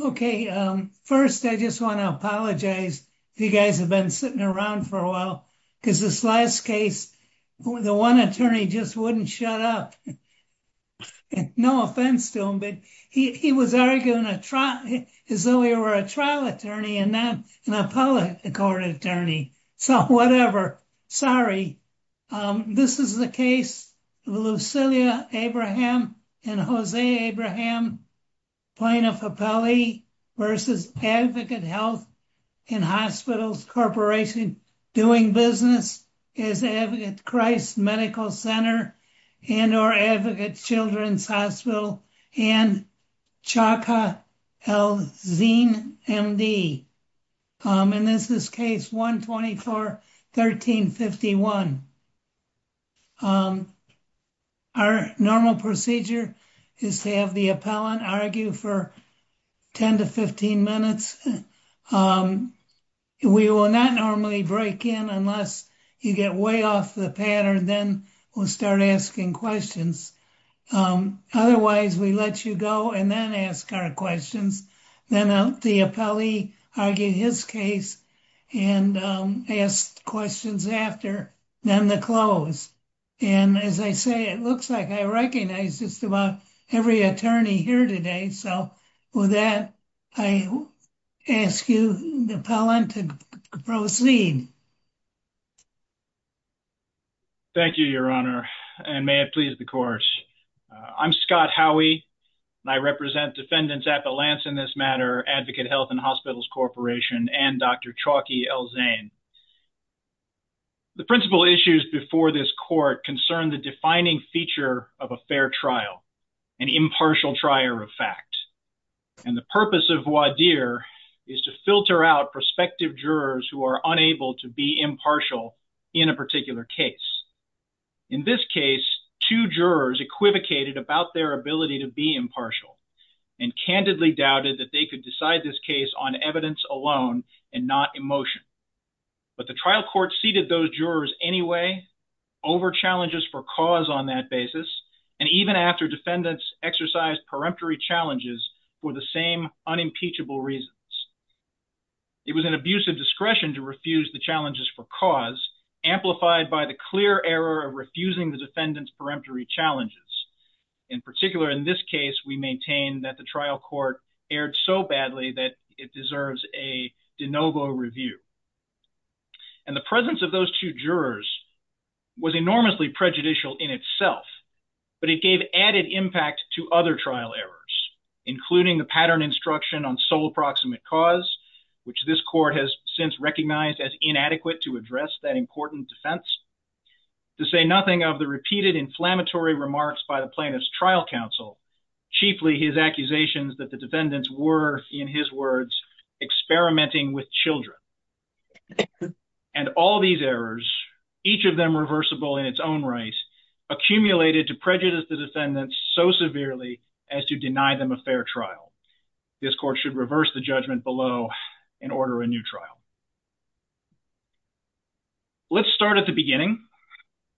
Okay, first, I just want to apologize. You guys have been sitting around for a while because this last case, the one attorney just wouldn't shut up. No offense to him, but he was arguing a trial as though he were a trial attorney and not an appellate court attorney. So whatever. Sorry. This is the case of Lucilia Abraham and Jose Abraham. Plaintiff appellee versus Advocate Health and Hospitals Corporation doing business is Advocate Christ Medical Center and or Advocates Children's Hospital and Chaka El-Zin MD. And this is case 124-1351. Our normal procedure is to have the appellant argue for 10 to 15 minutes. We will not normally break in unless you get way off the pattern. Then we'll start asking questions. Otherwise, we let you go and then ask our questions. Then the appellee argued his case and asked questions after, then the close. And as I say, it looks like I recognize just about every attorney here today. So, with that, I ask you, the appellant, to proceed. Thank you, Your Honor, and may it please the court. I'm Scott Howey, and I represent Defendants Appellants in this matter, Advocate Health and Hospitals Corporation, and Dr. Chaka El-Zin. The principal issues before this court concern the defining feature of a fair trial, an impartial trial of fact. And the purpose of voir dire is to filter out prospective jurors who are unable to be impartial in a particular case. In this case, two jurors equivocated about their ability to be impartial and candidly doubted that they could decide this case on evidence alone and not emotion. But the trial court seated those jurors anyway, over challenges for cause on that basis, and even after defendants exercised peremptory challenges for the same unimpeachable reasons. It was an abuse of discretion to refuse the challenges for cause, amplified by the clear error of refusing the defendants' peremptory challenges. In particular, in this case, we maintain that the trial court erred so badly that it deserves a de novo review. And the presence of those two jurors was enormously prejudicial in itself, but it gave added impact to other trial errors, including the pattern instruction on sole proximate cause, which this court has since recognized as inadequate to address that important defense. To say nothing of the repeated inflammatory remarks by the plaintiff's trial counsel, chiefly his accusations that the defendants were, in his words, experimenting with children. And all these errors, each of them reversible in its own right, accumulated to prejudice the defendants so severely as to deny them a fair trial. This court should reverse the judgment below and order a new trial. Let's start at the beginning,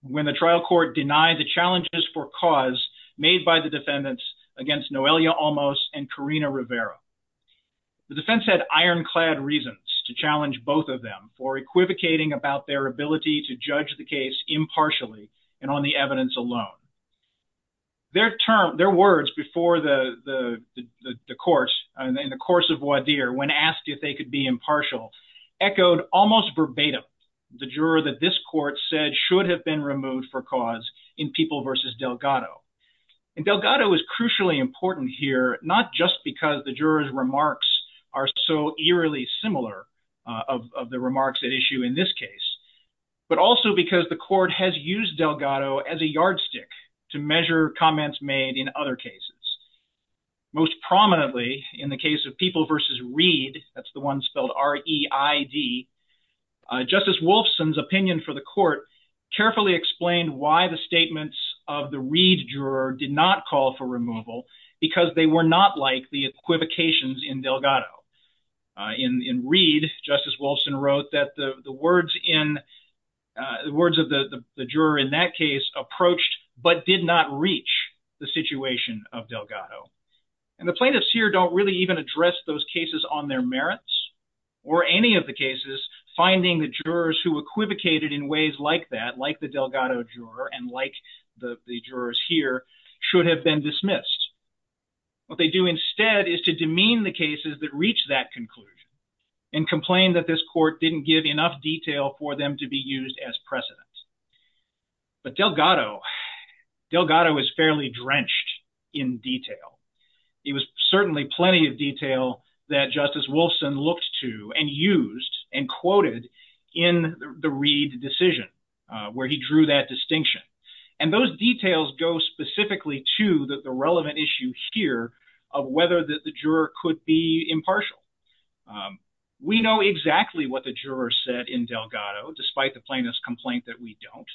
when the trial court denied the challenges for cause made by the defendants against Noelia Almos and Karina Rivera. The defense had ironclad reasons to challenge both of them for equivocating about their ability to judge the case impartially and on the evidence alone. Their words before the court, in the course of voir dire, when asked if they could be impartial, echoed almost verbatim the juror that this court said should have been removed for cause in People v. Delgado. And Delgado is crucially important here, not just because the juror's remarks are so eerily similar of the remarks at issue in this case, but also because the court has used Delgado as a yardstick to measure comments made in other cases. Most prominently in the case of People v. Reed, that's the one spelled R-E-I-D, Justice Wolfson's opinion for the court carefully explained why the statements of the Reed juror did not call for removal because they were not like the equivocations in Delgado. In Reed, Justice Wolfson wrote that the words of the juror in that case approached but did not reach the situation of Delgado. And the plaintiffs here don't really even address those cases on their merits or any of the cases, finding the jurors who equivocated in ways like that, like the Delgado juror and like the jurors here, should have been dismissed. What they do instead is to demean the cases that reach that conclusion and complain that this court didn't give enough detail for them to be used as precedent. But Delgado, Delgado is fairly drenched in detail. It was certainly plenty of detail that Justice Wolfson looked to and used and quoted in the Reed decision where he drew that distinction. And those details go specifically to the relevant issue here of whether the juror could be impartial. We know exactly what the jurors said in Delgado, despite the plaintiff's complaint that we don't.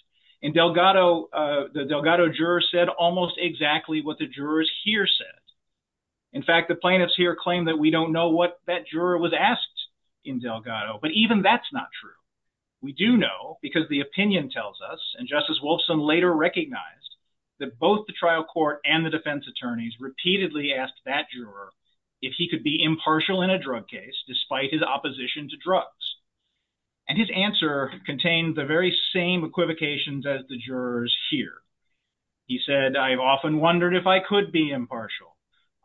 In Delgado, the Delgado juror said almost exactly what the jurors here said. In fact, the plaintiffs here claim that we don't know what that juror was asked in Delgado, but even that's not true. We do know because the opinion tells us and Justice Wolfson later recognized that both the trial court and the defense attorneys repeatedly asked that juror if he could be impartial in a drug case, despite his opposition to drugs. And his answer contained the very same equivocations as the jurors here. He said, I've often wondered if I could be impartial.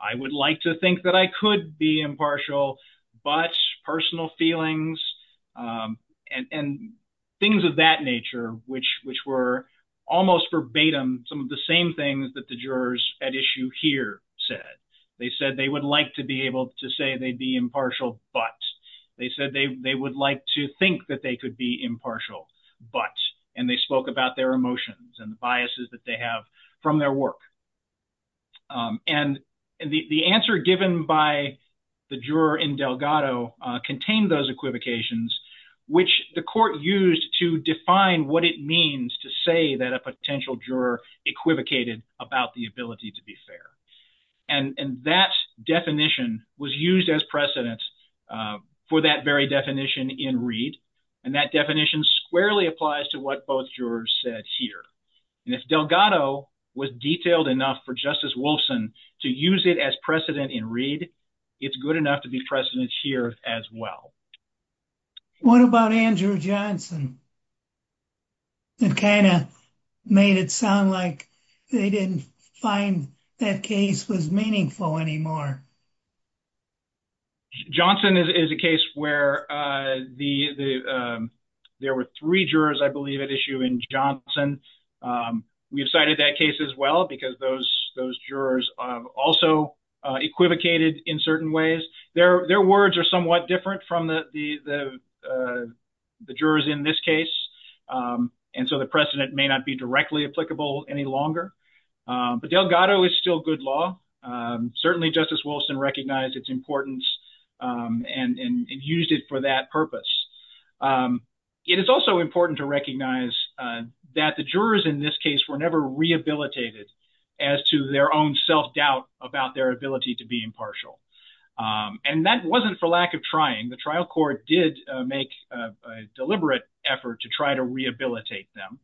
I would like to think that I could be impartial, but personal feelings and things of that nature, which were almost verbatim some of the same things that the jurors at issue here said. They said they would like to be able to say they'd be impartial, but. They said they would like to think that they could be impartial, but. And they spoke about their emotions and the biases that they have from their work. And the answer given by the juror in Delgado contained those equivocations, which the court used to define what it means to say that a potential juror equivocated about the ability to be fair. And that definition was used as precedent for that very definition in Reed. And that definition squarely applies to what both jurors said here. And if Delgado was detailed enough for Justice Wolfson to use it as precedent in Reed, it's good enough to be precedent here as well. What about Andrew Johnson? It kind of made it sound like they didn't find that case was meaningful anymore. Johnson is a case where the there were three jurors, I believe, at issue in Johnson. We have cited that case as well, because those those jurors also equivocated in certain ways. Their words are somewhat different from the jurors in this case. And so the precedent may not be directly applicable any longer. But Delgado is still good law. Certainly, Justice Wolfson recognized its importance and used it for that purpose. It is also important to recognize that the jurors in this case were never rehabilitated as to their own self-doubt about their ability to be impartial. And that wasn't for lack of trying. The trial court did make a deliberate effort to try to rehabilitate them.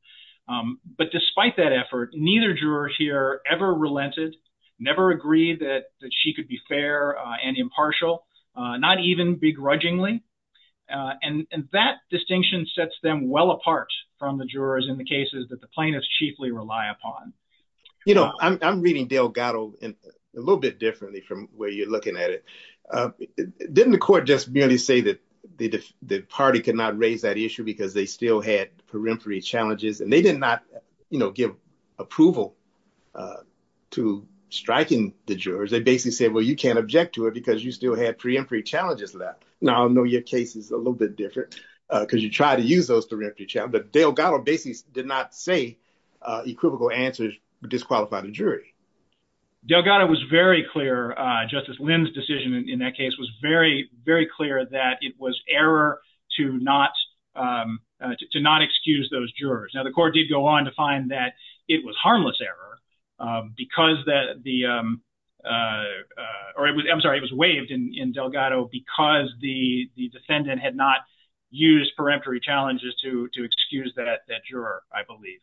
But despite that effort, neither juror here ever relented, never agreed that she could be fair and impartial, not even begrudgingly. And that distinction sets them well apart from the jurors in the cases that the plaintiffs chiefly rely upon. You know, I'm reading Delgado in a little bit differently from where you're looking at it. Didn't the court just merely say that the party could not raise that issue because they still had preemptory challenges? And they did not give approval to striking the jurors. They basically said, well, you can't object to it because you still had preemptory challenges left. Now, I know your case is a little bit different because you try to use those direct challenge. But Delgado basically did not say equivocal answers disqualify the jury. Delgado was very clear. Justice Lynn's decision in that case was very, very clear that it was error to not to not excuse those jurors. Now, the court did go on to find that it was harmless error because that the I'm sorry, it was waived in Delgado because the defendant had not used preemptory challenges to to excuse that that juror, I believe.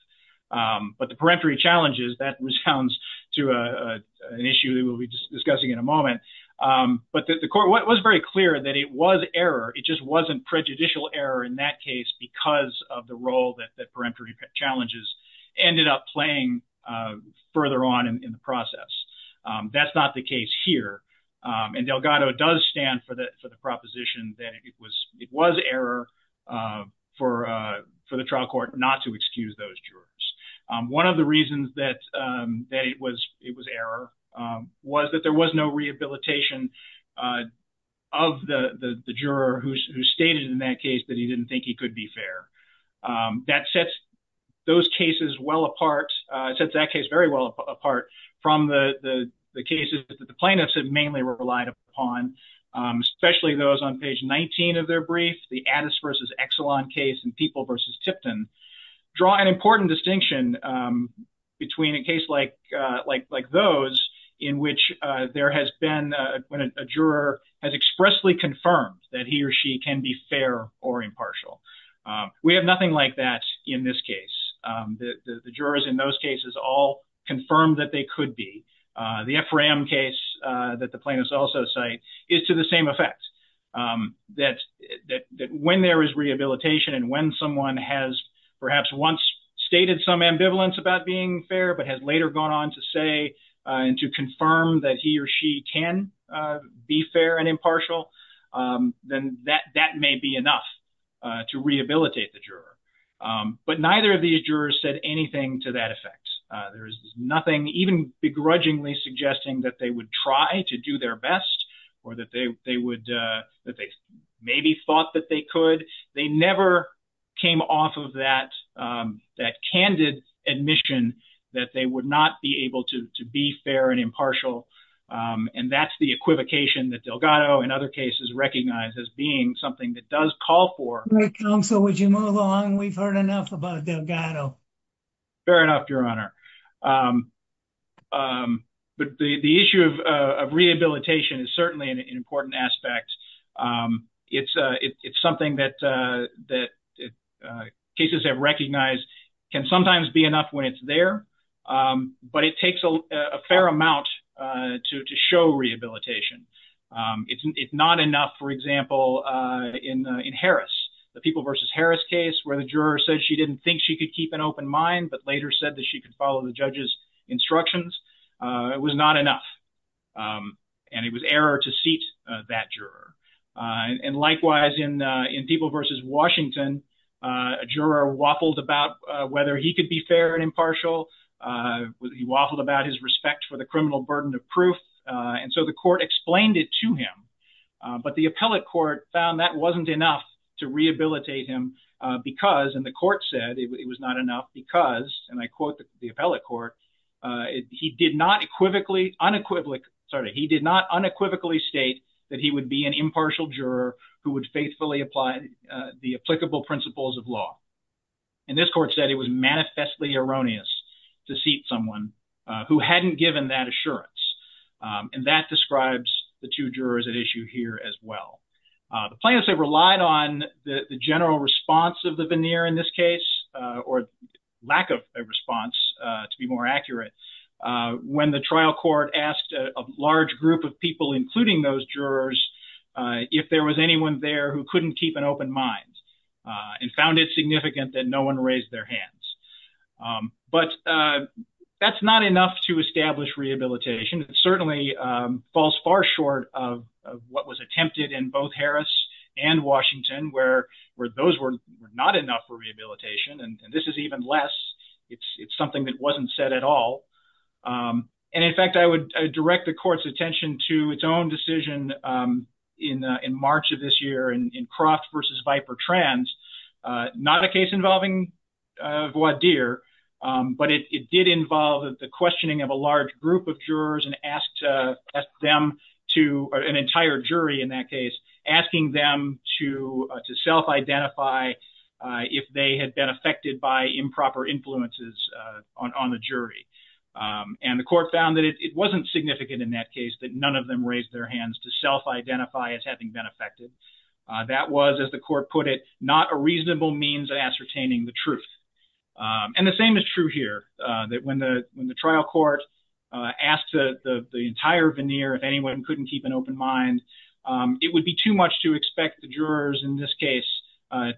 But the preemptory challenges that resounds to an issue that we'll be discussing in a moment. But the court was very clear that it was error. It just wasn't prejudicial error in that case because of the role that that preemptory challenges ended up playing further on in the process. That's not the case here. And Delgado does stand for that for the proposition that it was it was error for for the trial court not to excuse those jurors. One of the reasons that that it was it was error was that there was no rehabilitation of the juror who stated in that case that he didn't think he could be fair. That sets those cases well apart, sets that case very well apart from the cases that the plaintiffs have mainly relied upon, especially those on page 19 of their brief. The Addis versus Exelon case and People versus Tipton draw an important distinction between a case like like like those in which there has been when a juror has expressly confirmed that he or she can be fair or impartial. We have nothing like that in this case. The jurors in those cases all confirmed that they could be the FRM case that the plaintiffs also cite is to the same effect that that when there is rehabilitation and when someone has perhaps once stated some ambivalence about being fair but has later gone on to say and to confirm that he or she can be fair and impartial. Then that that may be enough to rehabilitate the juror. But neither of these jurors said anything to that effect. There is nothing even begrudgingly suggesting that they would try to do their best or that they they would that they maybe thought that they could. They never came off of that, that candid admission that they would not be able to be fair and impartial. And that's the equivocation that Delgado and other cases recognize as being something that does call for. So would you move on? We've heard enough about Delgado. Fair enough, Your Honor. But the issue of rehabilitation is certainly an important aspect. It's it's something that that cases have recognized can sometimes be enough when it's there. But it takes a fair amount to show rehabilitation. It's not enough. For example, in in Harris, the people versus Harris case where the juror said she didn't think she could keep an open mind, but later said that she could follow the judge's instructions. It was not enough. And it was error to seat that juror. And likewise, in in people versus Washington, a juror waffled about whether he could be fair and impartial. He waffled about his respect for the criminal burden of proof. And so the court explained it to him. But the appellate court found that wasn't enough to rehabilitate him because and the court said it was not enough because, and I quote the appellate court, he did not equivocally unequivocal. Sorry, he did not unequivocally state that he would be an impartial juror who would faithfully apply the applicable principles of law. And this court said it was manifestly erroneous to seat someone who hadn't given that assurance. And that describes the two jurors at issue here as well. The plaintiffs have relied on the general response of the veneer in this case or lack of a response to be more accurate. When the trial court asked a large group of people, including those jurors, if there was anyone there who couldn't keep an open mind and found it significant that no one raised their hands. But that's not enough to establish rehabilitation. It certainly falls far short of what was attempted in both Harris and Washington, where those were not enough for rehabilitation. And this is even less. It's something that wasn't said at all. And in fact, I would direct the court's attention to its own decision in March of this year in Croft versus Viper Trans. Not a case involving voir dire, but it did involve the questioning of a large group of jurors and asked them to, an entire jury in that case, asking them to self-identify if they had been affected by improper influences on the jury. And the court found that it wasn't significant in that case that none of them raised their hands to self-identify as having been affected. That was, as the court put it, not a reasonable means of ascertaining the truth. And the same is true here, that when the trial court asked the entire veneer if anyone couldn't keep an open mind, it would be too much to expect the jurors in this case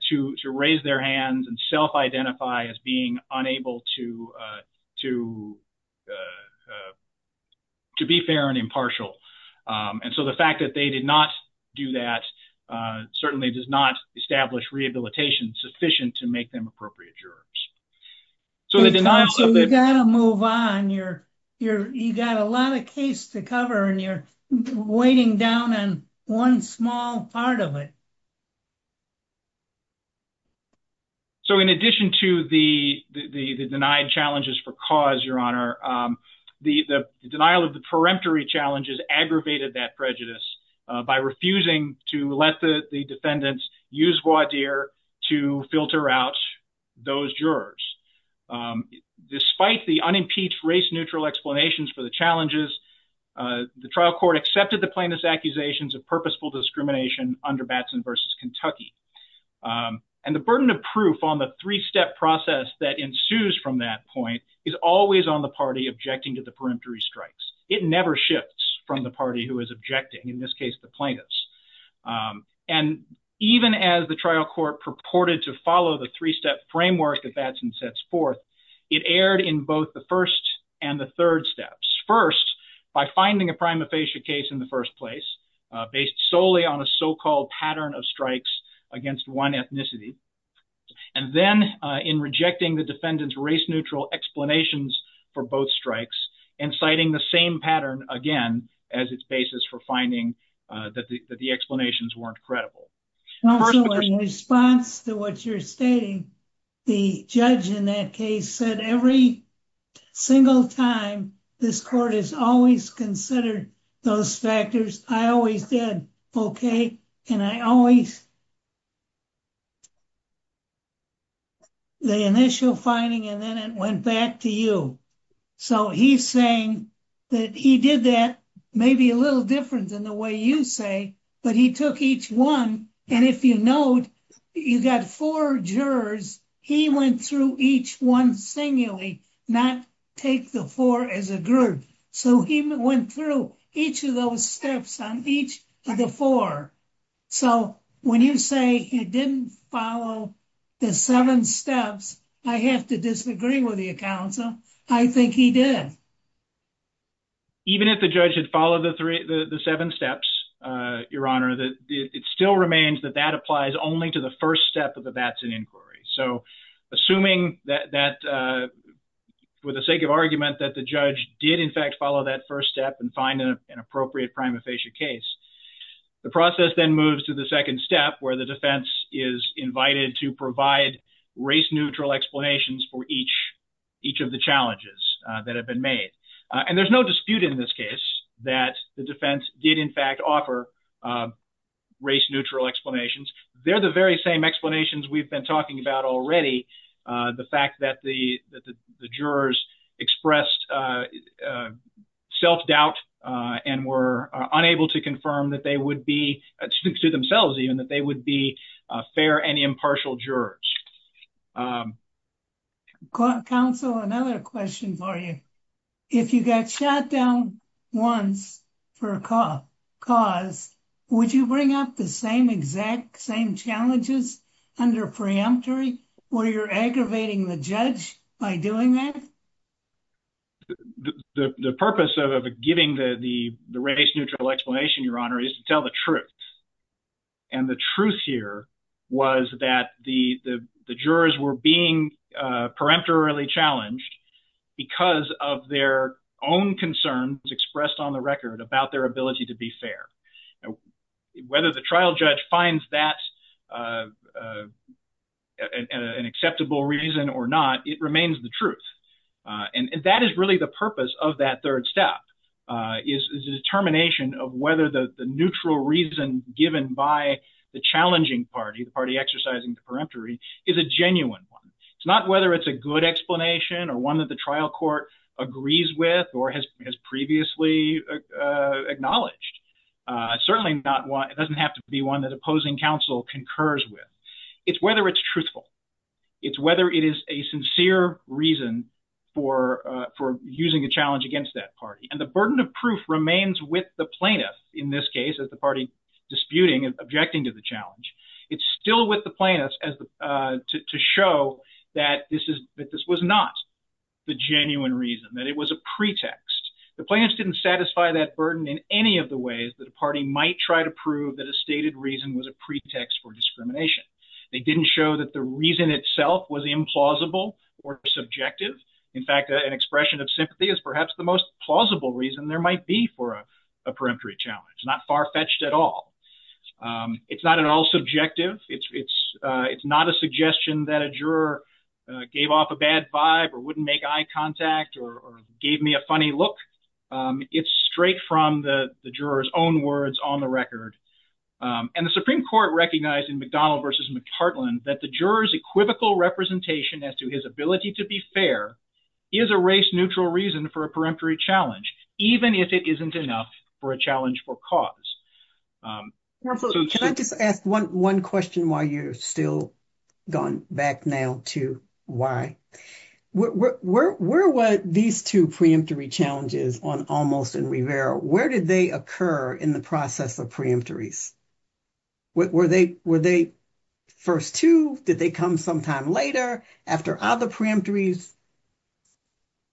to raise their hands and self-identify as being unable to be fair and impartial. And so the fact that they did not do that certainly does not establish rehabilitation sufficient to make them appropriate jurors. So you've got to move on. You've got a lot of case to cover and you're waiting down on one small part of it. So in addition to the denied challenges for cause, Your Honor, the denial of the peremptory challenges aggravated that prejudice by refusing to let the defendants use voir dire to filter out those jurors. Despite the unimpeached race-neutral explanations for the challenges, the trial court accepted the plaintiff's accusations of purposeful discrimination under Batson v. Kentucky. And the burden of proof on the three-step process that ensues from that point is always on the party objecting to the peremptory strikes. It never shifts from the party who is objecting, in this case the plaintiffs. And even as the trial court purported to follow the three-step framework that Batson sets forth, it erred in both the first and the third steps. First, by finding a prima facie case in the first place based solely on a so-called pattern of strikes against one ethnicity. And then in rejecting the defendant's race-neutral explanations for both strikes and citing the same pattern again as its basis for finding that the explanations weren't credible. Also, in response to what you're stating, the judge in that case said every single time this court has always considered those factors, I always did, okay, and I always... The initial finding and then it went back to you. So he's saying that he did that maybe a little different than the way you say, but he took each one. And if you note, you got four jurors, he went through each one singularly, not take the four as a group. So he went through each of those steps on each of the four. So when you say he didn't follow the seven steps, I have to disagree with you, counsel. I think he did. Even if the judge had followed the seven steps, Your Honor, it still remains that that applies only to the first step of the Batson inquiry. So assuming that with the sake of argument that the judge did in fact follow that first step and find an appropriate prima facie case, the process then moves to the second step where the defense is invited to provide race-neutral explanations for each of the challenges that have been made. And there's no dispute in this case that the defense did in fact offer race-neutral explanations. They're the very same explanations we've been talking about already. The fact that the jurors expressed self-doubt and were unable to confirm that they would be, to themselves even, that they would be fair and impartial jurors. Counsel, another question for you. If you got shot down once for a cause, would you bring up the same exact same challenges under preemptory where you're aggravating the judge by doing that? The purpose of giving the race-neutral explanation, Your Honor, is to tell the truth. And the truth here was that the jurors were being preemptorily challenged because of their own concerns expressed on the record about their ability to be fair. Whether the trial judge finds that an acceptable reason or not, it remains the truth. And that is really the purpose of that third step, is the determination of whether the neutral reason given by the challenging party, the party exercising the preemptory, is a genuine one. It's not whether it's a good explanation or one that the trial court agrees with or has previously acknowledged. It certainly doesn't have to be one that opposing counsel concurs with. It's whether it's truthful. It's whether it is a sincere reason for using a challenge against that party. And the burden of proof remains with the plaintiff in this case as the party disputing and objecting to the challenge. It's still with the plaintiffs to show that this was not the genuine reason, that it was a pretext. The plaintiffs didn't satisfy that burden in any of the ways that a party might try to prove that a stated reason was a pretext for discrimination. They didn't show that the reason itself was implausible or subjective. In fact, an expression of sympathy is perhaps the most plausible reason there might be for a preemptory challenge. Not far fetched at all. It's not at all subjective. It's not a suggestion that a juror gave off a bad vibe or wouldn't make eye contact or gave me a funny look. It's straight from the juror's own words on the record. And the Supreme Court recognized in McDonald versus McCartland that the juror's equivocal representation as to his ability to be fair is a race neutral reason for a preemptory challenge, even if it isn't enough for a challenge for cause. Can I just ask one question while you're still going back now to why? Where were these two preemptory challenges on Almost and Rivera? Where did they occur in the process of preemptories? Were they first two? Did they come sometime later after other preemptories?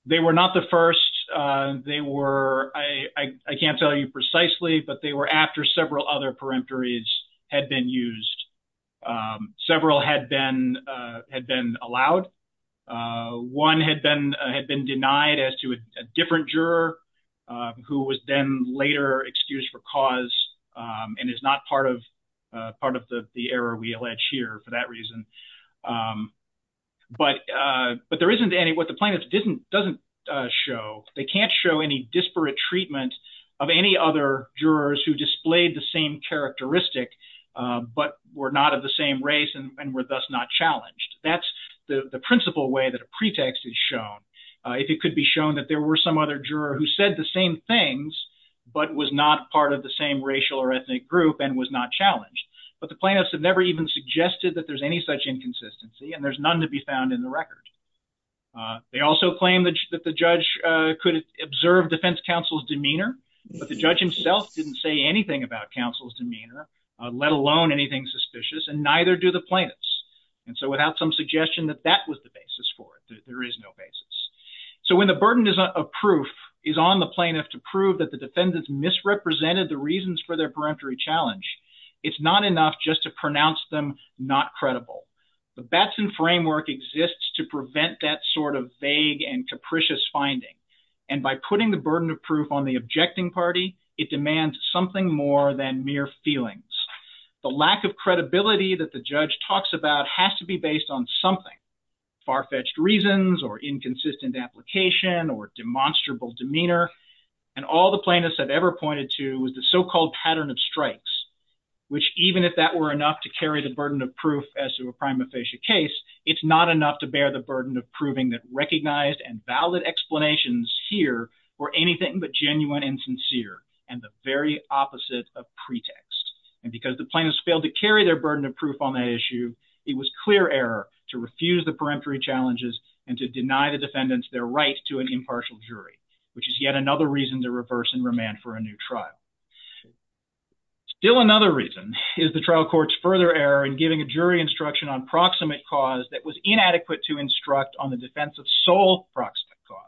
They were not the first. I can't tell you precisely, but they were after several other preemptories had been used. Several had been allowed. One had been denied as to a different juror who was then later excused for cause and is not part of the error we allege here for that reason. But there isn't any. What the plaintiff doesn't show, they can't show any disparate treatment of any other jurors who displayed the same characteristic but were not of the same race and were thus not challenged. That's the principal way that a pretext is shown. It could be shown that there were some other juror who said the same things but was not part of the same racial or ethnic group and was not challenged. But the plaintiffs have never even suggested that there's any such inconsistency, and there's none to be found in the record. They also claim that the judge could observe defense counsel's demeanor, but the judge himself didn't say anything about counsel's demeanor, let alone anything suspicious, and neither do the plaintiffs. And so without some suggestion that that was the basis for it, there is no basis. So when the burden of proof is on the plaintiff to prove that the defendants misrepresented the reasons for their peremptory challenge, it's not enough just to pronounce them not credible. The Batson framework exists to prevent that sort of vague and capricious finding, and by putting the burden of proof on the objecting party, it demands something more than mere feelings. The lack of credibility that the judge talks about has to be based on something, far-fetched reasons or inconsistent application or demonstrable demeanor. And all the plaintiffs have ever pointed to was the so-called pattern of strikes, which even if that were enough to carry the burden of proof as to a prima facie case, it's not enough to bear the burden of proving that recognized and valid explanations here were anything but genuine and sincere and the very opposite of pretext. And because the plaintiffs failed to carry their burden of proof on that issue, it was clear error to refuse the peremptory challenges and to deny the defendants their right to an impartial jury, which is yet another reason to reverse and remand for a new trial. Still another reason is the trial court's further error in giving a jury instruction on proximate cause that was inadequate to instruct on the defense of sole proximate cause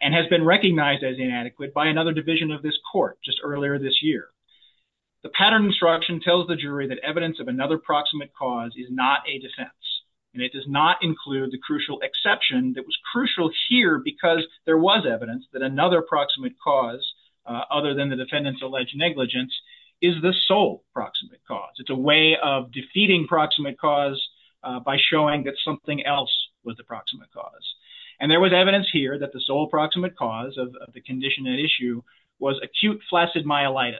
and has been recognized as inadequate by another division of this court just earlier this year. The pattern instruction tells the jury that evidence of another proximate cause is not a defense and it does not include the crucial exception that was crucial here because there was evidence that another proximate cause, other than the defendant's alleged negligence, is the sole proximate cause. It's a way of defeating proximate cause by showing that something else was the proximate cause. And there was evidence here that the sole proximate cause of the condition at issue was acute flaccid myelitis,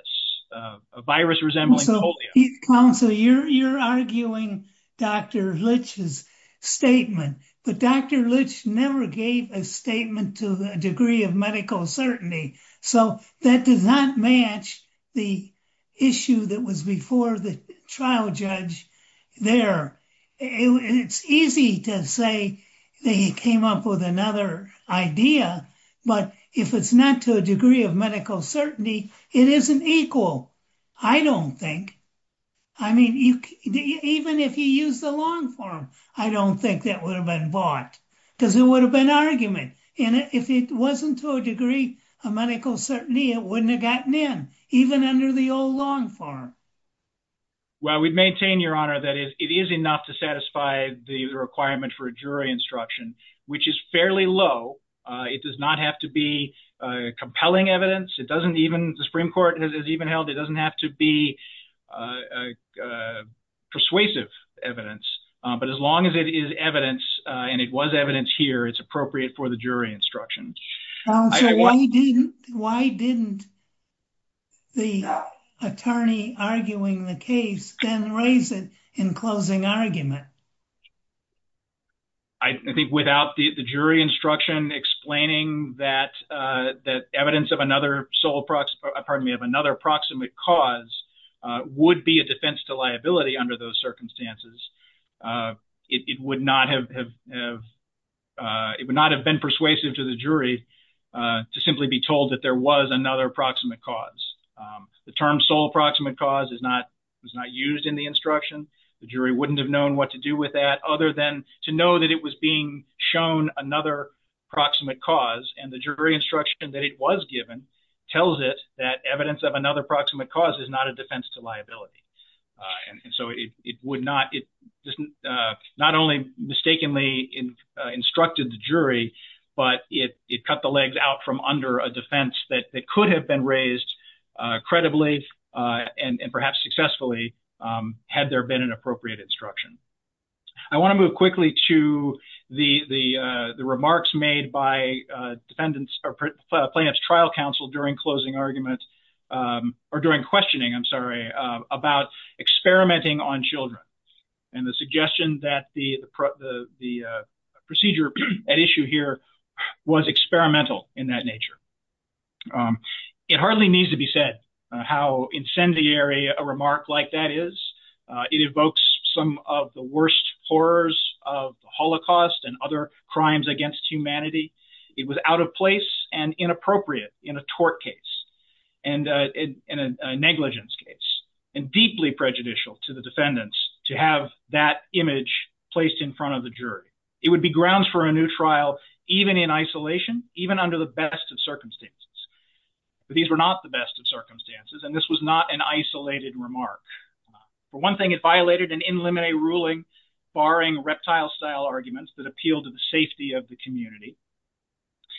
a virus resembling polio. Counsel, you're arguing Dr. Litch's statement, but Dr. Litch never gave a statement to a degree of medical certainty, so that does not match the issue that was before the trial judge there. It's easy to say that he came up with another idea, but if it's not to a degree of medical certainty, it isn't equal. I don't think. I mean, even if he used the long form, I don't think that would have been bought because it would have been argument. And if it wasn't to a degree of medical certainty, it wouldn't have gotten in, even under the old long form. Well, we'd maintain, Your Honor, that it is enough to satisfy the requirement for a jury instruction, which is fairly low. It does not have to be compelling evidence. It doesn't even, the Supreme Court has even held, it doesn't have to be persuasive evidence. But as long as it is evidence, and it was evidence here, it's appropriate for the jury instruction. Counsel, why didn't the attorney arguing the case then raise it in closing argument? I think without the jury instruction explaining that evidence of another sole, pardon me, of another proximate cause would be a defense to liability under those circumstances, it would not have been persuasive to the jury to simply be told that there was another proximate cause. The term sole proximate cause is not used in the instruction. The jury wouldn't have known what to do with that other than to know that it was being shown another proximate cause, and the jury instruction that it was given tells it that evidence of another proximate cause is not a defense to liability. And so it would not, it not only mistakenly instructed the jury, but it cut the legs out from under a defense that could have been raised credibly and perhaps successfully had there been an appropriate instruction. I want to move quickly to the remarks made by defendants or plaintiff's trial counsel during closing argument, or during questioning, I'm sorry, about experimenting on children and the suggestion that the procedure at issue here was experimental in that nature. It hardly needs to be said how incendiary a remark like that is. It evokes some of the worst horrors of the Holocaust and other crimes against humanity. It was out of place and inappropriate in a tort case and in a negligence case and deeply prejudicial to the defendants to have that image placed in front of the jury. It would be grounds for a new trial even in isolation, even under the best of circumstances. But these were not the best of circumstances and this was not an isolated remark. For one thing, it violated an in limine ruling barring reptile style arguments that appeal to the safety of the community.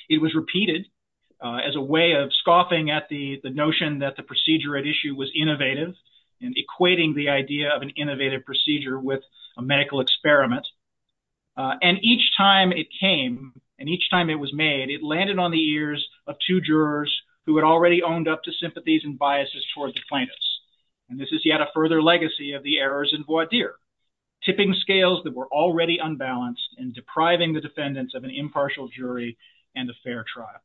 It was repeated as a way of scoffing at the notion that the procedure at issue was innovative and equating the idea of an innovative procedure with a medical experiment. And each time it came and each time it was made, it landed on the ears of two jurors who had already owned up to sympathies and biases towards the plaintiffs. And this is yet a further legacy of the errors in voir dire, tipping scales that were already unbalanced and depriving the defendants of an impartial jury and a fair trial.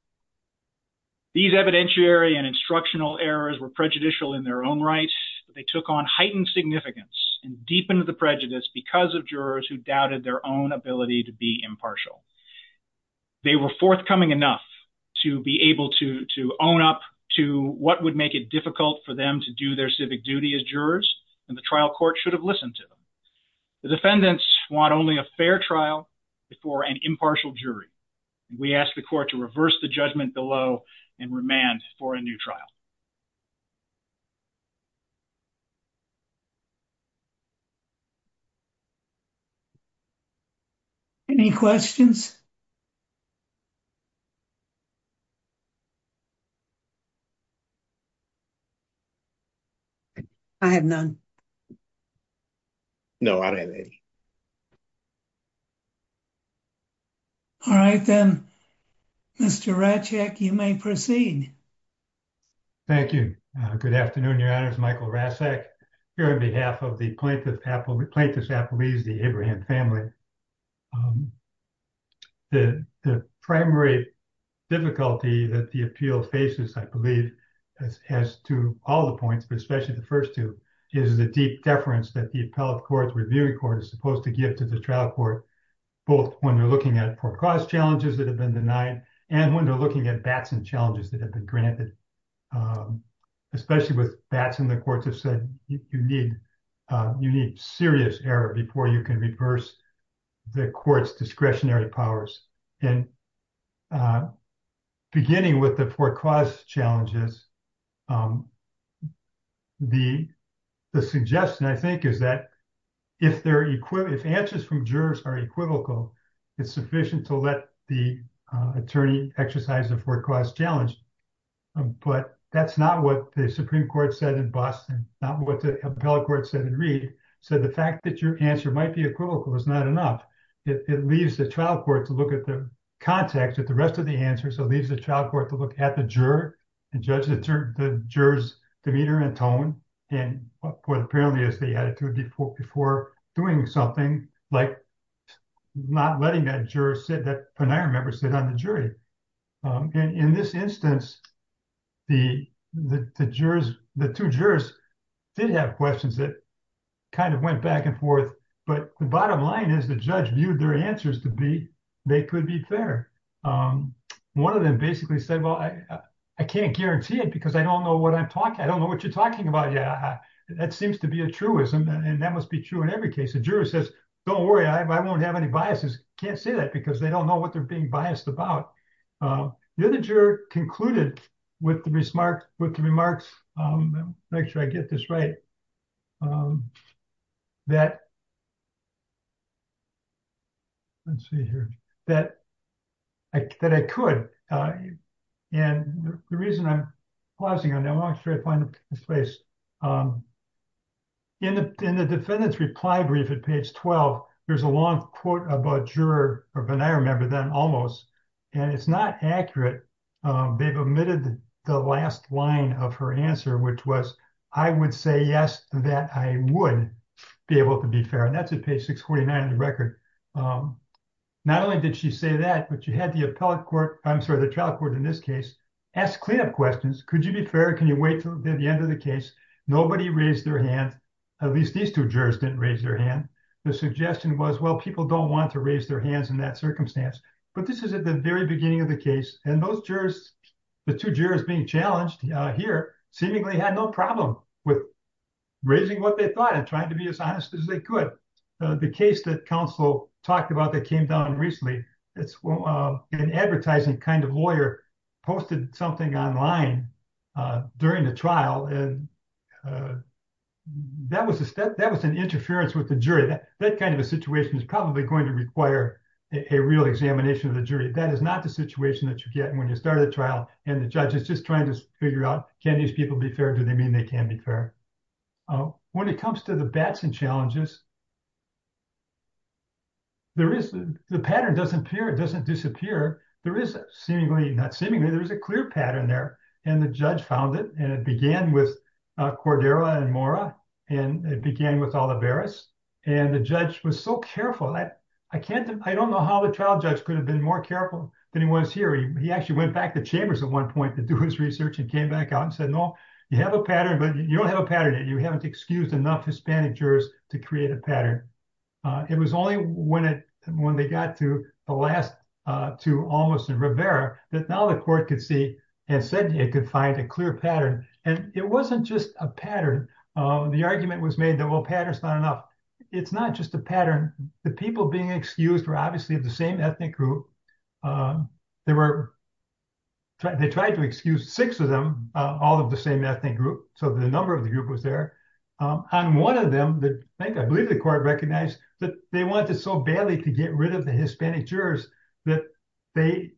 These evidentiary and instructional errors were prejudicial in their own right. They took on heightened significance and deepened the prejudice because of jurors who doubted their own ability to be impartial. They were forthcoming enough to be able to own up to what would make it difficult for them to do their civic duty as jurors and the trial court should have listened to them. The defendants want only a fair trial before an impartial jury. We ask the court to reverse the judgment below and remand for a new trial. Any questions? I have none. No, I don't have any. All right, then, Mr. Raczak, you may proceed. Thank you. Good afternoon, Your Honors. Michael Raczak here on behalf of the plaintiffs' appellees, the Abraham family. The primary difficulty that the appeal faces, I believe, as to all the points, but especially the first two, is the deep deference that the appellate court, the reviewing court, is supposed to give to the trial court, both when they're looking at poor cause challenges that have been denied and when they're looking at Batson challenges that have been granted. Especially with Batson, the courts have said you need serious error before you can reverse the court's discretionary powers. And beginning with the poor cause challenges, the suggestion, I think, is that if answers from jurors are equivocal, it's sufficient to let the attorney exercise the poor cause challenge. But that's not what the Supreme Court said in Batson, not what the appellate court said in Reed. So the fact that your answer might be equivocal is not enough. It leaves the trial court to look at the context of the rest of the answer. So it leaves the trial court to look at the juror and judge the juror's demeanor and tone and what apparently is the attitude before doing something like not letting that juror sit, that penile member sit on the jury. In this instance, the two jurors did have questions that kind of went back and forth. But the bottom line is the judge viewed their answers to be they could be fair. One of them basically said, well, I can't guarantee it because I don't know what I'm talking. I don't know what you're talking about. Yeah, that seems to be a truism. And that must be true in every case. The juror says, don't worry, I won't have any biases. Can't say that because they don't know what they're being biased about. The other juror concluded with the remarks, make sure I get this right, that I could. And the reason I'm pausing on that, I'm going to try to find a place. In the defendant's reply brief at page 12, there's a long quote about juror or penile member then almost. And it's not accurate. They've omitted the last line of her answer, which was, I would say yes, that I would be able to be fair. And that's at page 649 of the record. Not only did she say that, but she had the trial court in this case ask cleanup questions. Could you be fair? Can you wait until the end of the case? Nobody raised their hand. At least these two jurors didn't raise their hand. The suggestion was, well, people don't want to raise their hands in that circumstance. But this is at the very beginning of the case. And those jurors, the two jurors being challenged here, seemingly had no problem with raising what they thought and trying to be as honest as they could. The case that counsel talked about that came down recently, it's an advertising kind of lawyer posted something online during the trial. And that was an interference with the jury. That kind of a situation is probably going to require a real examination of the jury. That is not the situation that you get when you start a trial and the judge is just trying to figure out, can these people be fair? Do they mean they can be fair? When it comes to the Batson challenges, the pattern doesn't disappear. There is seemingly, not seemingly, there is a clear pattern there. And the judge found it. And it began with Cordera and Mora. And it began with Olivares. And the judge was so careful. I don't know how the trial judge could have been more careful than he was here. He actually went back to Chambers at one point to do his research and came back out and said, no, you have a pattern, but you don't have a pattern. You haven't excused enough Hispanic jurors to create a pattern. It was only when they got to the last two, Olivas and Rivera, that now the court could see and said it could find a clear pattern. And it wasn't just a pattern. The argument was made that, well, pattern is not enough. It's not just a pattern. The people being excused were obviously of the same ethnic group. They tried to excuse six of them, all of the same ethnic group. So the number of the group was there. And one of them, I think I believe the court recognized that they wanted so badly to get rid of the Hispanic jurors that they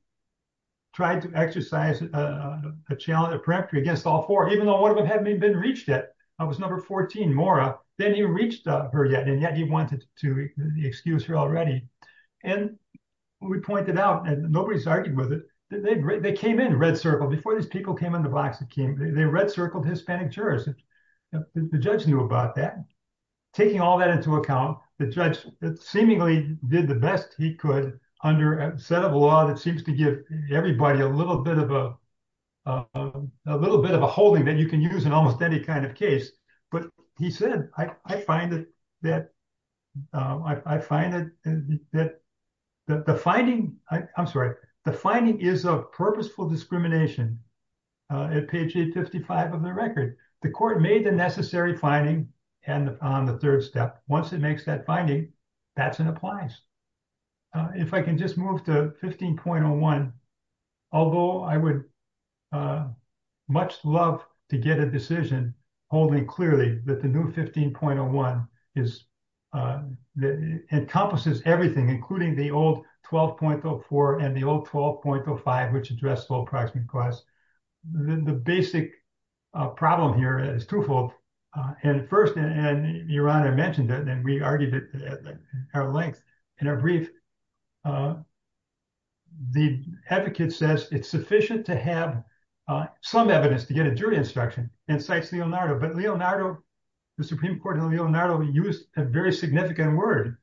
tried to exercise a challenge, a peremptory against all four, even though one of them hadn't even been reached yet. It was number 14, Mora. Then he reached her yet, and yet he wanted to excuse her already. And we pointed out, and nobody's arguing with it, that they came in red circled. Before these people came in the box, they red circled Hispanic jurors. The judge knew about that. Taking all that into account, the judge seemingly did the best he could under a set of law that seems to give everybody a little bit of a holding that you can use in almost any kind of case. But he said, I find that the finding, I'm sorry, the finding is of purposeful discrimination. At page 855 of the record, the court made the necessary finding on the third step. Once it makes that finding, that's an appliance. If I can just move to 15.01. Although I would much love to get a decision holding clearly that the new 15.01 encompasses everything, including the old 12.04 and the old 12.05, which address low approximate cost. The basic problem here is twofold. And first, and Your Honor mentioned it, and we argued it at length in our brief, the advocate says it's sufficient to have some evidence to get a jury instruction and cites Leonardo. But Leonardo, the Supreme Court of Leonardo used a very significant word.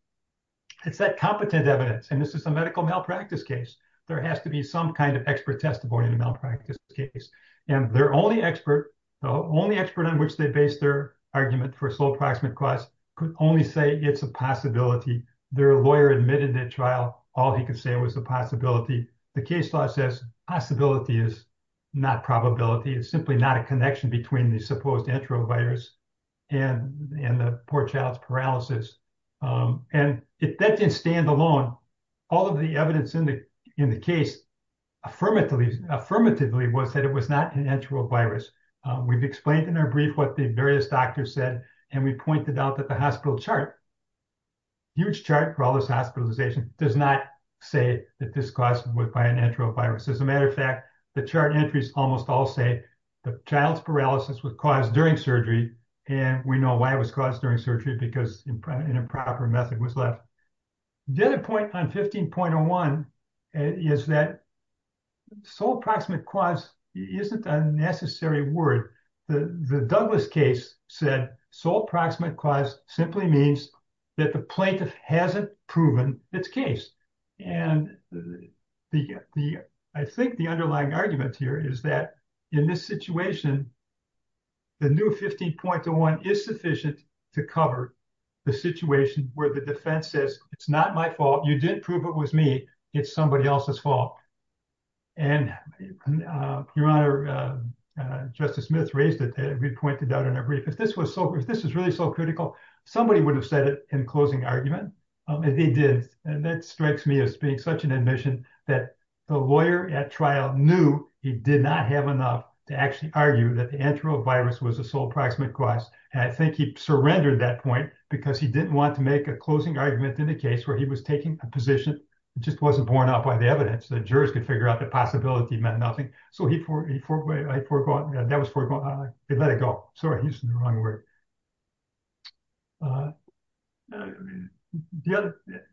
It's that competent evidence. And this is a medical malpractice case. There has to be some kind of expert testimony in a malpractice case. And their only expert, the only expert on which they base their argument for slow approximate cost could only say it's a possibility. Their lawyer admitted that trial. All he could say was the possibility. The case law says possibility is not probability. It's simply not a connection between the supposed enterovirus and the poor child's paralysis. And if that didn't stand alone, all of the evidence in the case affirmatively was that it was not an enterovirus. We've explained in our brief what the various doctors said, and we pointed out that the hospital chart, huge chart for all this hospitalization, does not say that this caused by an enterovirus. As a matter of fact, the chart entries almost all say the child's paralysis was caused during surgery. And we know why it was caused during surgery, because an improper method was left. The other point on 15.01 is that slow approximate cost isn't a necessary word. The Douglas case said slow approximate cost simply means that the plaintiff hasn't proven its case. And I think the underlying argument here is that in this situation, the new 15.01 is sufficient to cover the situation where the defense says it's not my fault. You didn't prove it was me. It's somebody else's fault. Your Honor, Justice Smith raised it. We pointed out in our brief. If this was really so critical, somebody would have said it in closing argument. And they did, and that strikes me as being such an admission that the lawyer at trial knew he did not have enough to actually argue that the enterovirus was a slow approximate cost. And I think he surrendered that point because he didn't want to make a closing argument in a case where he was taking a position that just wasn't borne out by the evidence. The jurors could figure out the possibility meant nothing. So he let it go. Sorry, he used the wrong word.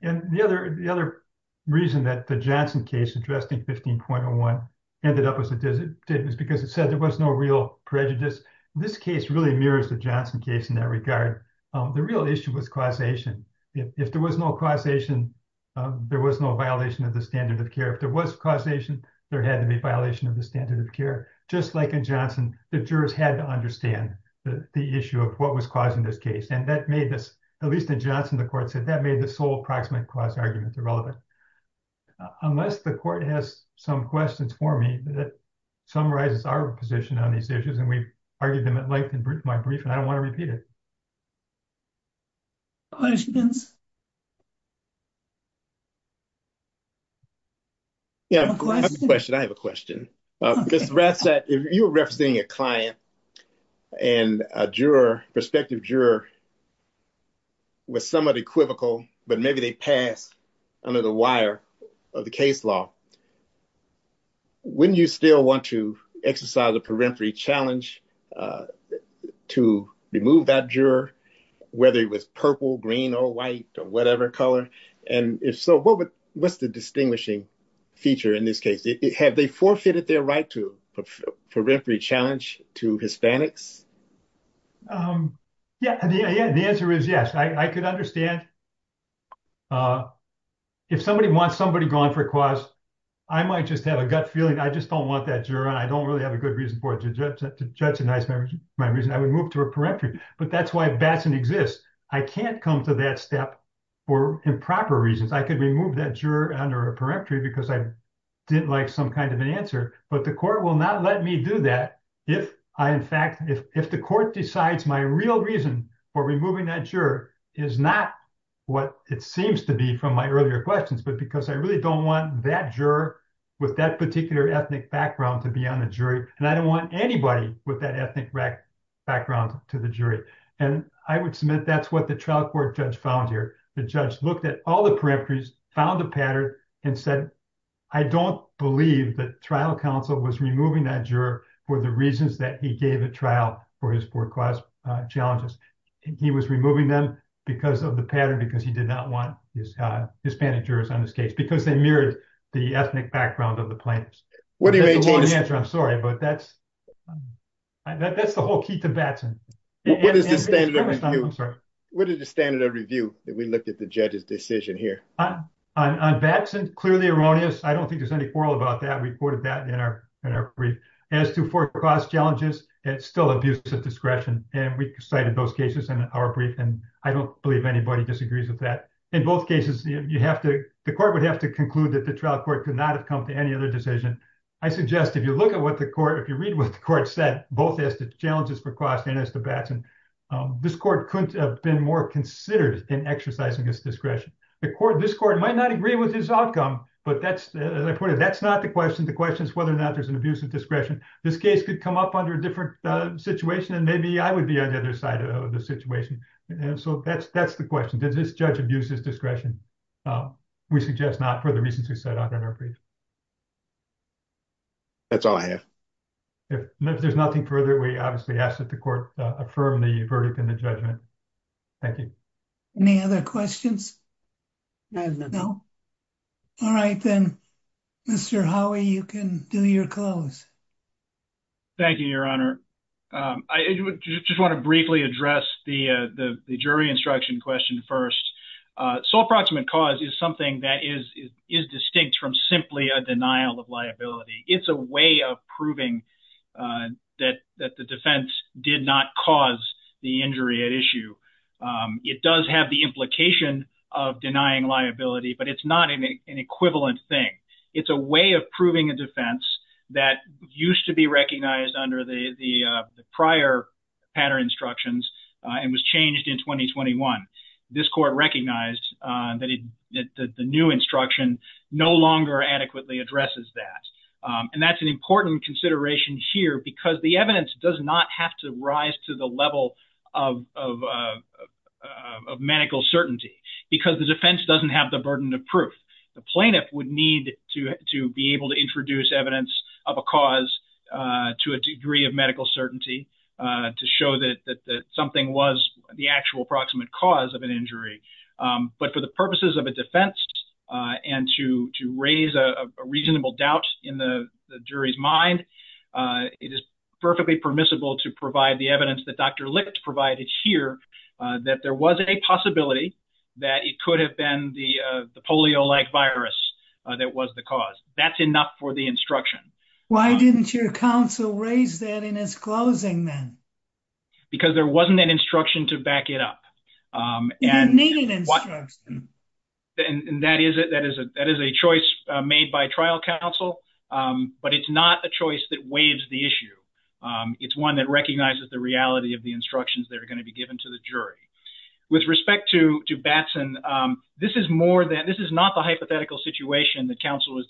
And the other reason that the Johnson case addressing 15.01 ended up as it did was because it said there was no real prejudice. This case really mirrors the Johnson case in that regard. The real issue was causation. If there was no causation, there was no violation of the standard of care. If there was causation, there had to be violation of the standard of care. Just like in Johnson, the jurors had to understand the issue of what was causing this case. And that made this, at least in Johnson, the court said that made the sole approximate cause argument irrelevant. Unless the court has some questions for me that summarizes our position on these issues, and we've argued them at length in my brief, and I don't want to repeat it. I have a question. Ms. Ratzak, if you're representing a client and a juror, prospective juror, with somebody equivocal, but maybe they pass under the wire of the case law, wouldn't you still want to exercise a peremptory challenge to remove that juror, whether it was purple, green or white or whatever color? And if so, what's the distinguishing feature in this case? Have they forfeited their right to a peremptory challenge to Hispanics? Yeah, the answer is yes. I could understand. If somebody wants somebody gone for a cause, I might just have a gut feeling I just don't want that juror, and I don't really have a good reason for it. I would move to a peremptory, but that's why Batson exists. I can't come to that step for improper reasons. I could remove that juror under a peremptory because I didn't like some kind of an answer. But the court will not let me do that if the court decides my real reason for removing that juror is not what it seems to be from my earlier questions, but because I really don't want that juror with that particular ethnic background to be on the jury. And I don't want anybody with that ethnic background to the jury. And I would submit that's what the trial court judge found here. The judge looked at all the peremptories, found a pattern and said, I don't believe that trial counsel was removing that juror for the reasons that he gave a trial for his poor class challenges. He was removing them because of the pattern, because he did not want Hispanic jurors on this case, because they mirrored the ethnic background of the plaintiffs. That's the wrong answer, I'm sorry, but that's the whole key to Batson. What is the standard of review that we looked at the judge's decision here? On Batson, clearly erroneous. I don't think there's any quarrel about that. We quoted that in our brief. As to poor class challenges, it's still abuse of discretion, and we cited those cases in our brief, and I don't believe anybody disagrees with that. In both cases, the court would have to conclude that the trial court could not have come to any other decision. I suggest if you look at what the court, if you read what the court said, both as to challenges for class and as to Batson, this court could have been more considered in exercising its discretion. This court might not agree with his outcome, but that's, as I put it, that's not the question. The question is whether or not there's an abuse of discretion. This case could come up under a different situation, and maybe I would be on the other side of the situation. That's the question. Does this judge abuse his discretion? We suggest not for the reasons we set out in our brief. That's all I have. If there's nothing further, we obviously ask that the court affirm the verdict in the judgment. Thank you. Any other questions? No? All right, then, Mr. Howie, you can do your close. Thank you, Your Honor. I just want to briefly address the jury instruction question first. Sole proximate cause is something that is distinct from simply a denial of liability. It's a way of proving that the defense did not cause the injury at issue. It does have the implication of denying liability, but it's not an equivalent thing. It's a way of proving a defense that used to be recognized under the prior pattern instructions and was changed in 2021. This court recognized that the new instruction no longer adequately addresses that. And that's an important consideration here because the evidence does not have to rise to the level of medical certainty because the defense doesn't have the burden of proof. The plaintiff would need to be able to introduce evidence of a cause to a degree of medical certainty to show that something was the actual proximate cause of an injury. But for the purposes of a defense and to raise a reasonable doubt in the jury's mind, it is perfectly permissible to provide the evidence that Dr. Licht provided here that there was a possibility that it could have been the polio-like virus that was the cause. That's enough for the instruction. Why didn't your counsel raise that in his closing then? Because there wasn't an instruction to back it up. You need an instruction. And that is a choice made by trial counsel, but it's not a choice that waives the issue. It's one that recognizes the reality of the instructions that are going to be given to the jury. With respect to Batson, this is not the hypothetical situation that counsel was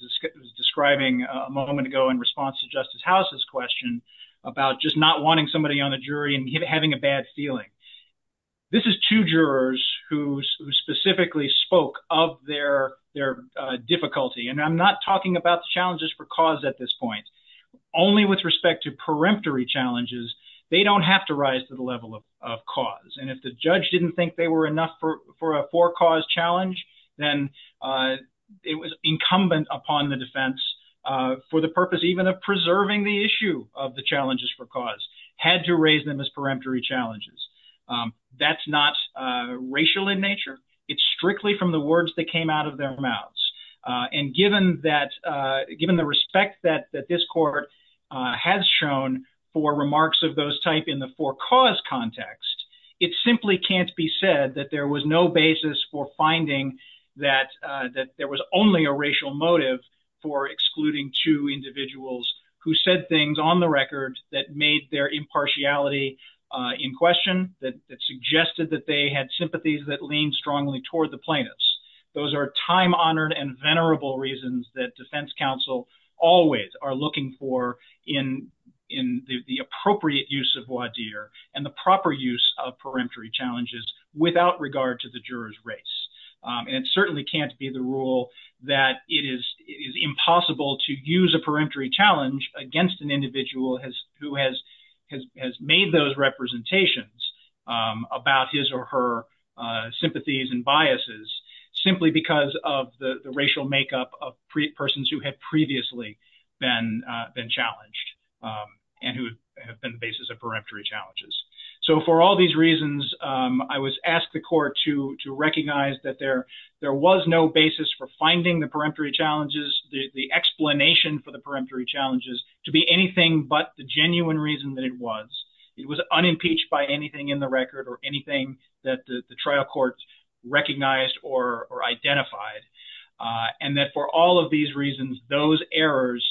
describing a moment ago in response to Justice House's question about just not wanting somebody on the jury and having a bad feeling. This is two jurors who specifically spoke of their difficulty. And I'm not talking about the challenges for cause at this point. Only with respect to peremptory challenges, they don't have to rise to the level of cause. And if the judge didn't think they were enough for a for-cause challenge, then it was incumbent upon the defense for the purpose even of preserving the issue of the challenges for cause, had to raise them as peremptory challenges. That's not racial in nature. It's strictly from the words that came out of their mouths. And given the respect that this court has shown for remarks of those type in the for-cause context, it simply can't be said that there was no basis for finding that there was only a racial motive for excluding two individuals who said things on the record that made their impartiality in question, that suggested that they had sympathies that leaned strongly toward the plaintiffs. Those are time-honored and venerable reasons that defense counsel always are looking for in the appropriate use of voir dire and the proper use of peremptory challenges without regard to the juror's race. And it certainly can't be the rule that it is impossible to use a peremptory challenge against an individual who has made those representations about his or her sympathies and biases simply because of the racial makeup of persons who had previously been challenged and who have been the basis of peremptory challenges. So for all these reasons, I was asked the court to recognize that there was no basis for finding the peremptory challenges, the explanation for the peremptory challenges to be anything but the genuine reason that it was. It was unimpeached by anything in the record or anything that the trial court recognized or identified, and that for all of these reasons, those errors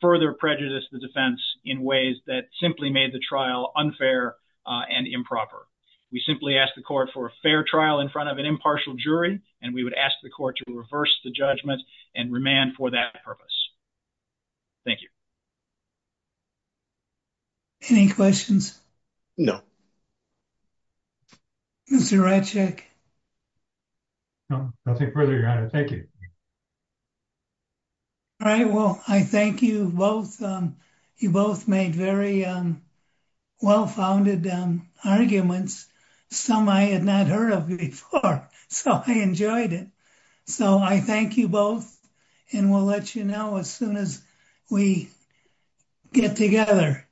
further prejudice the defense in ways that simply made the trial unfair and improper. We simply asked the court for a fair trial in front of an impartial jury, and we would ask the court to reverse the judgment and remand for that purpose. Thank you. Any questions? Mr. Raczek? No, nothing further, your honor. Thank you. All right, well, I thank you both. You both made very well-founded arguments, some I had not heard of before, so I enjoyed it. So I thank you both, and we'll let you know as soon as we get together.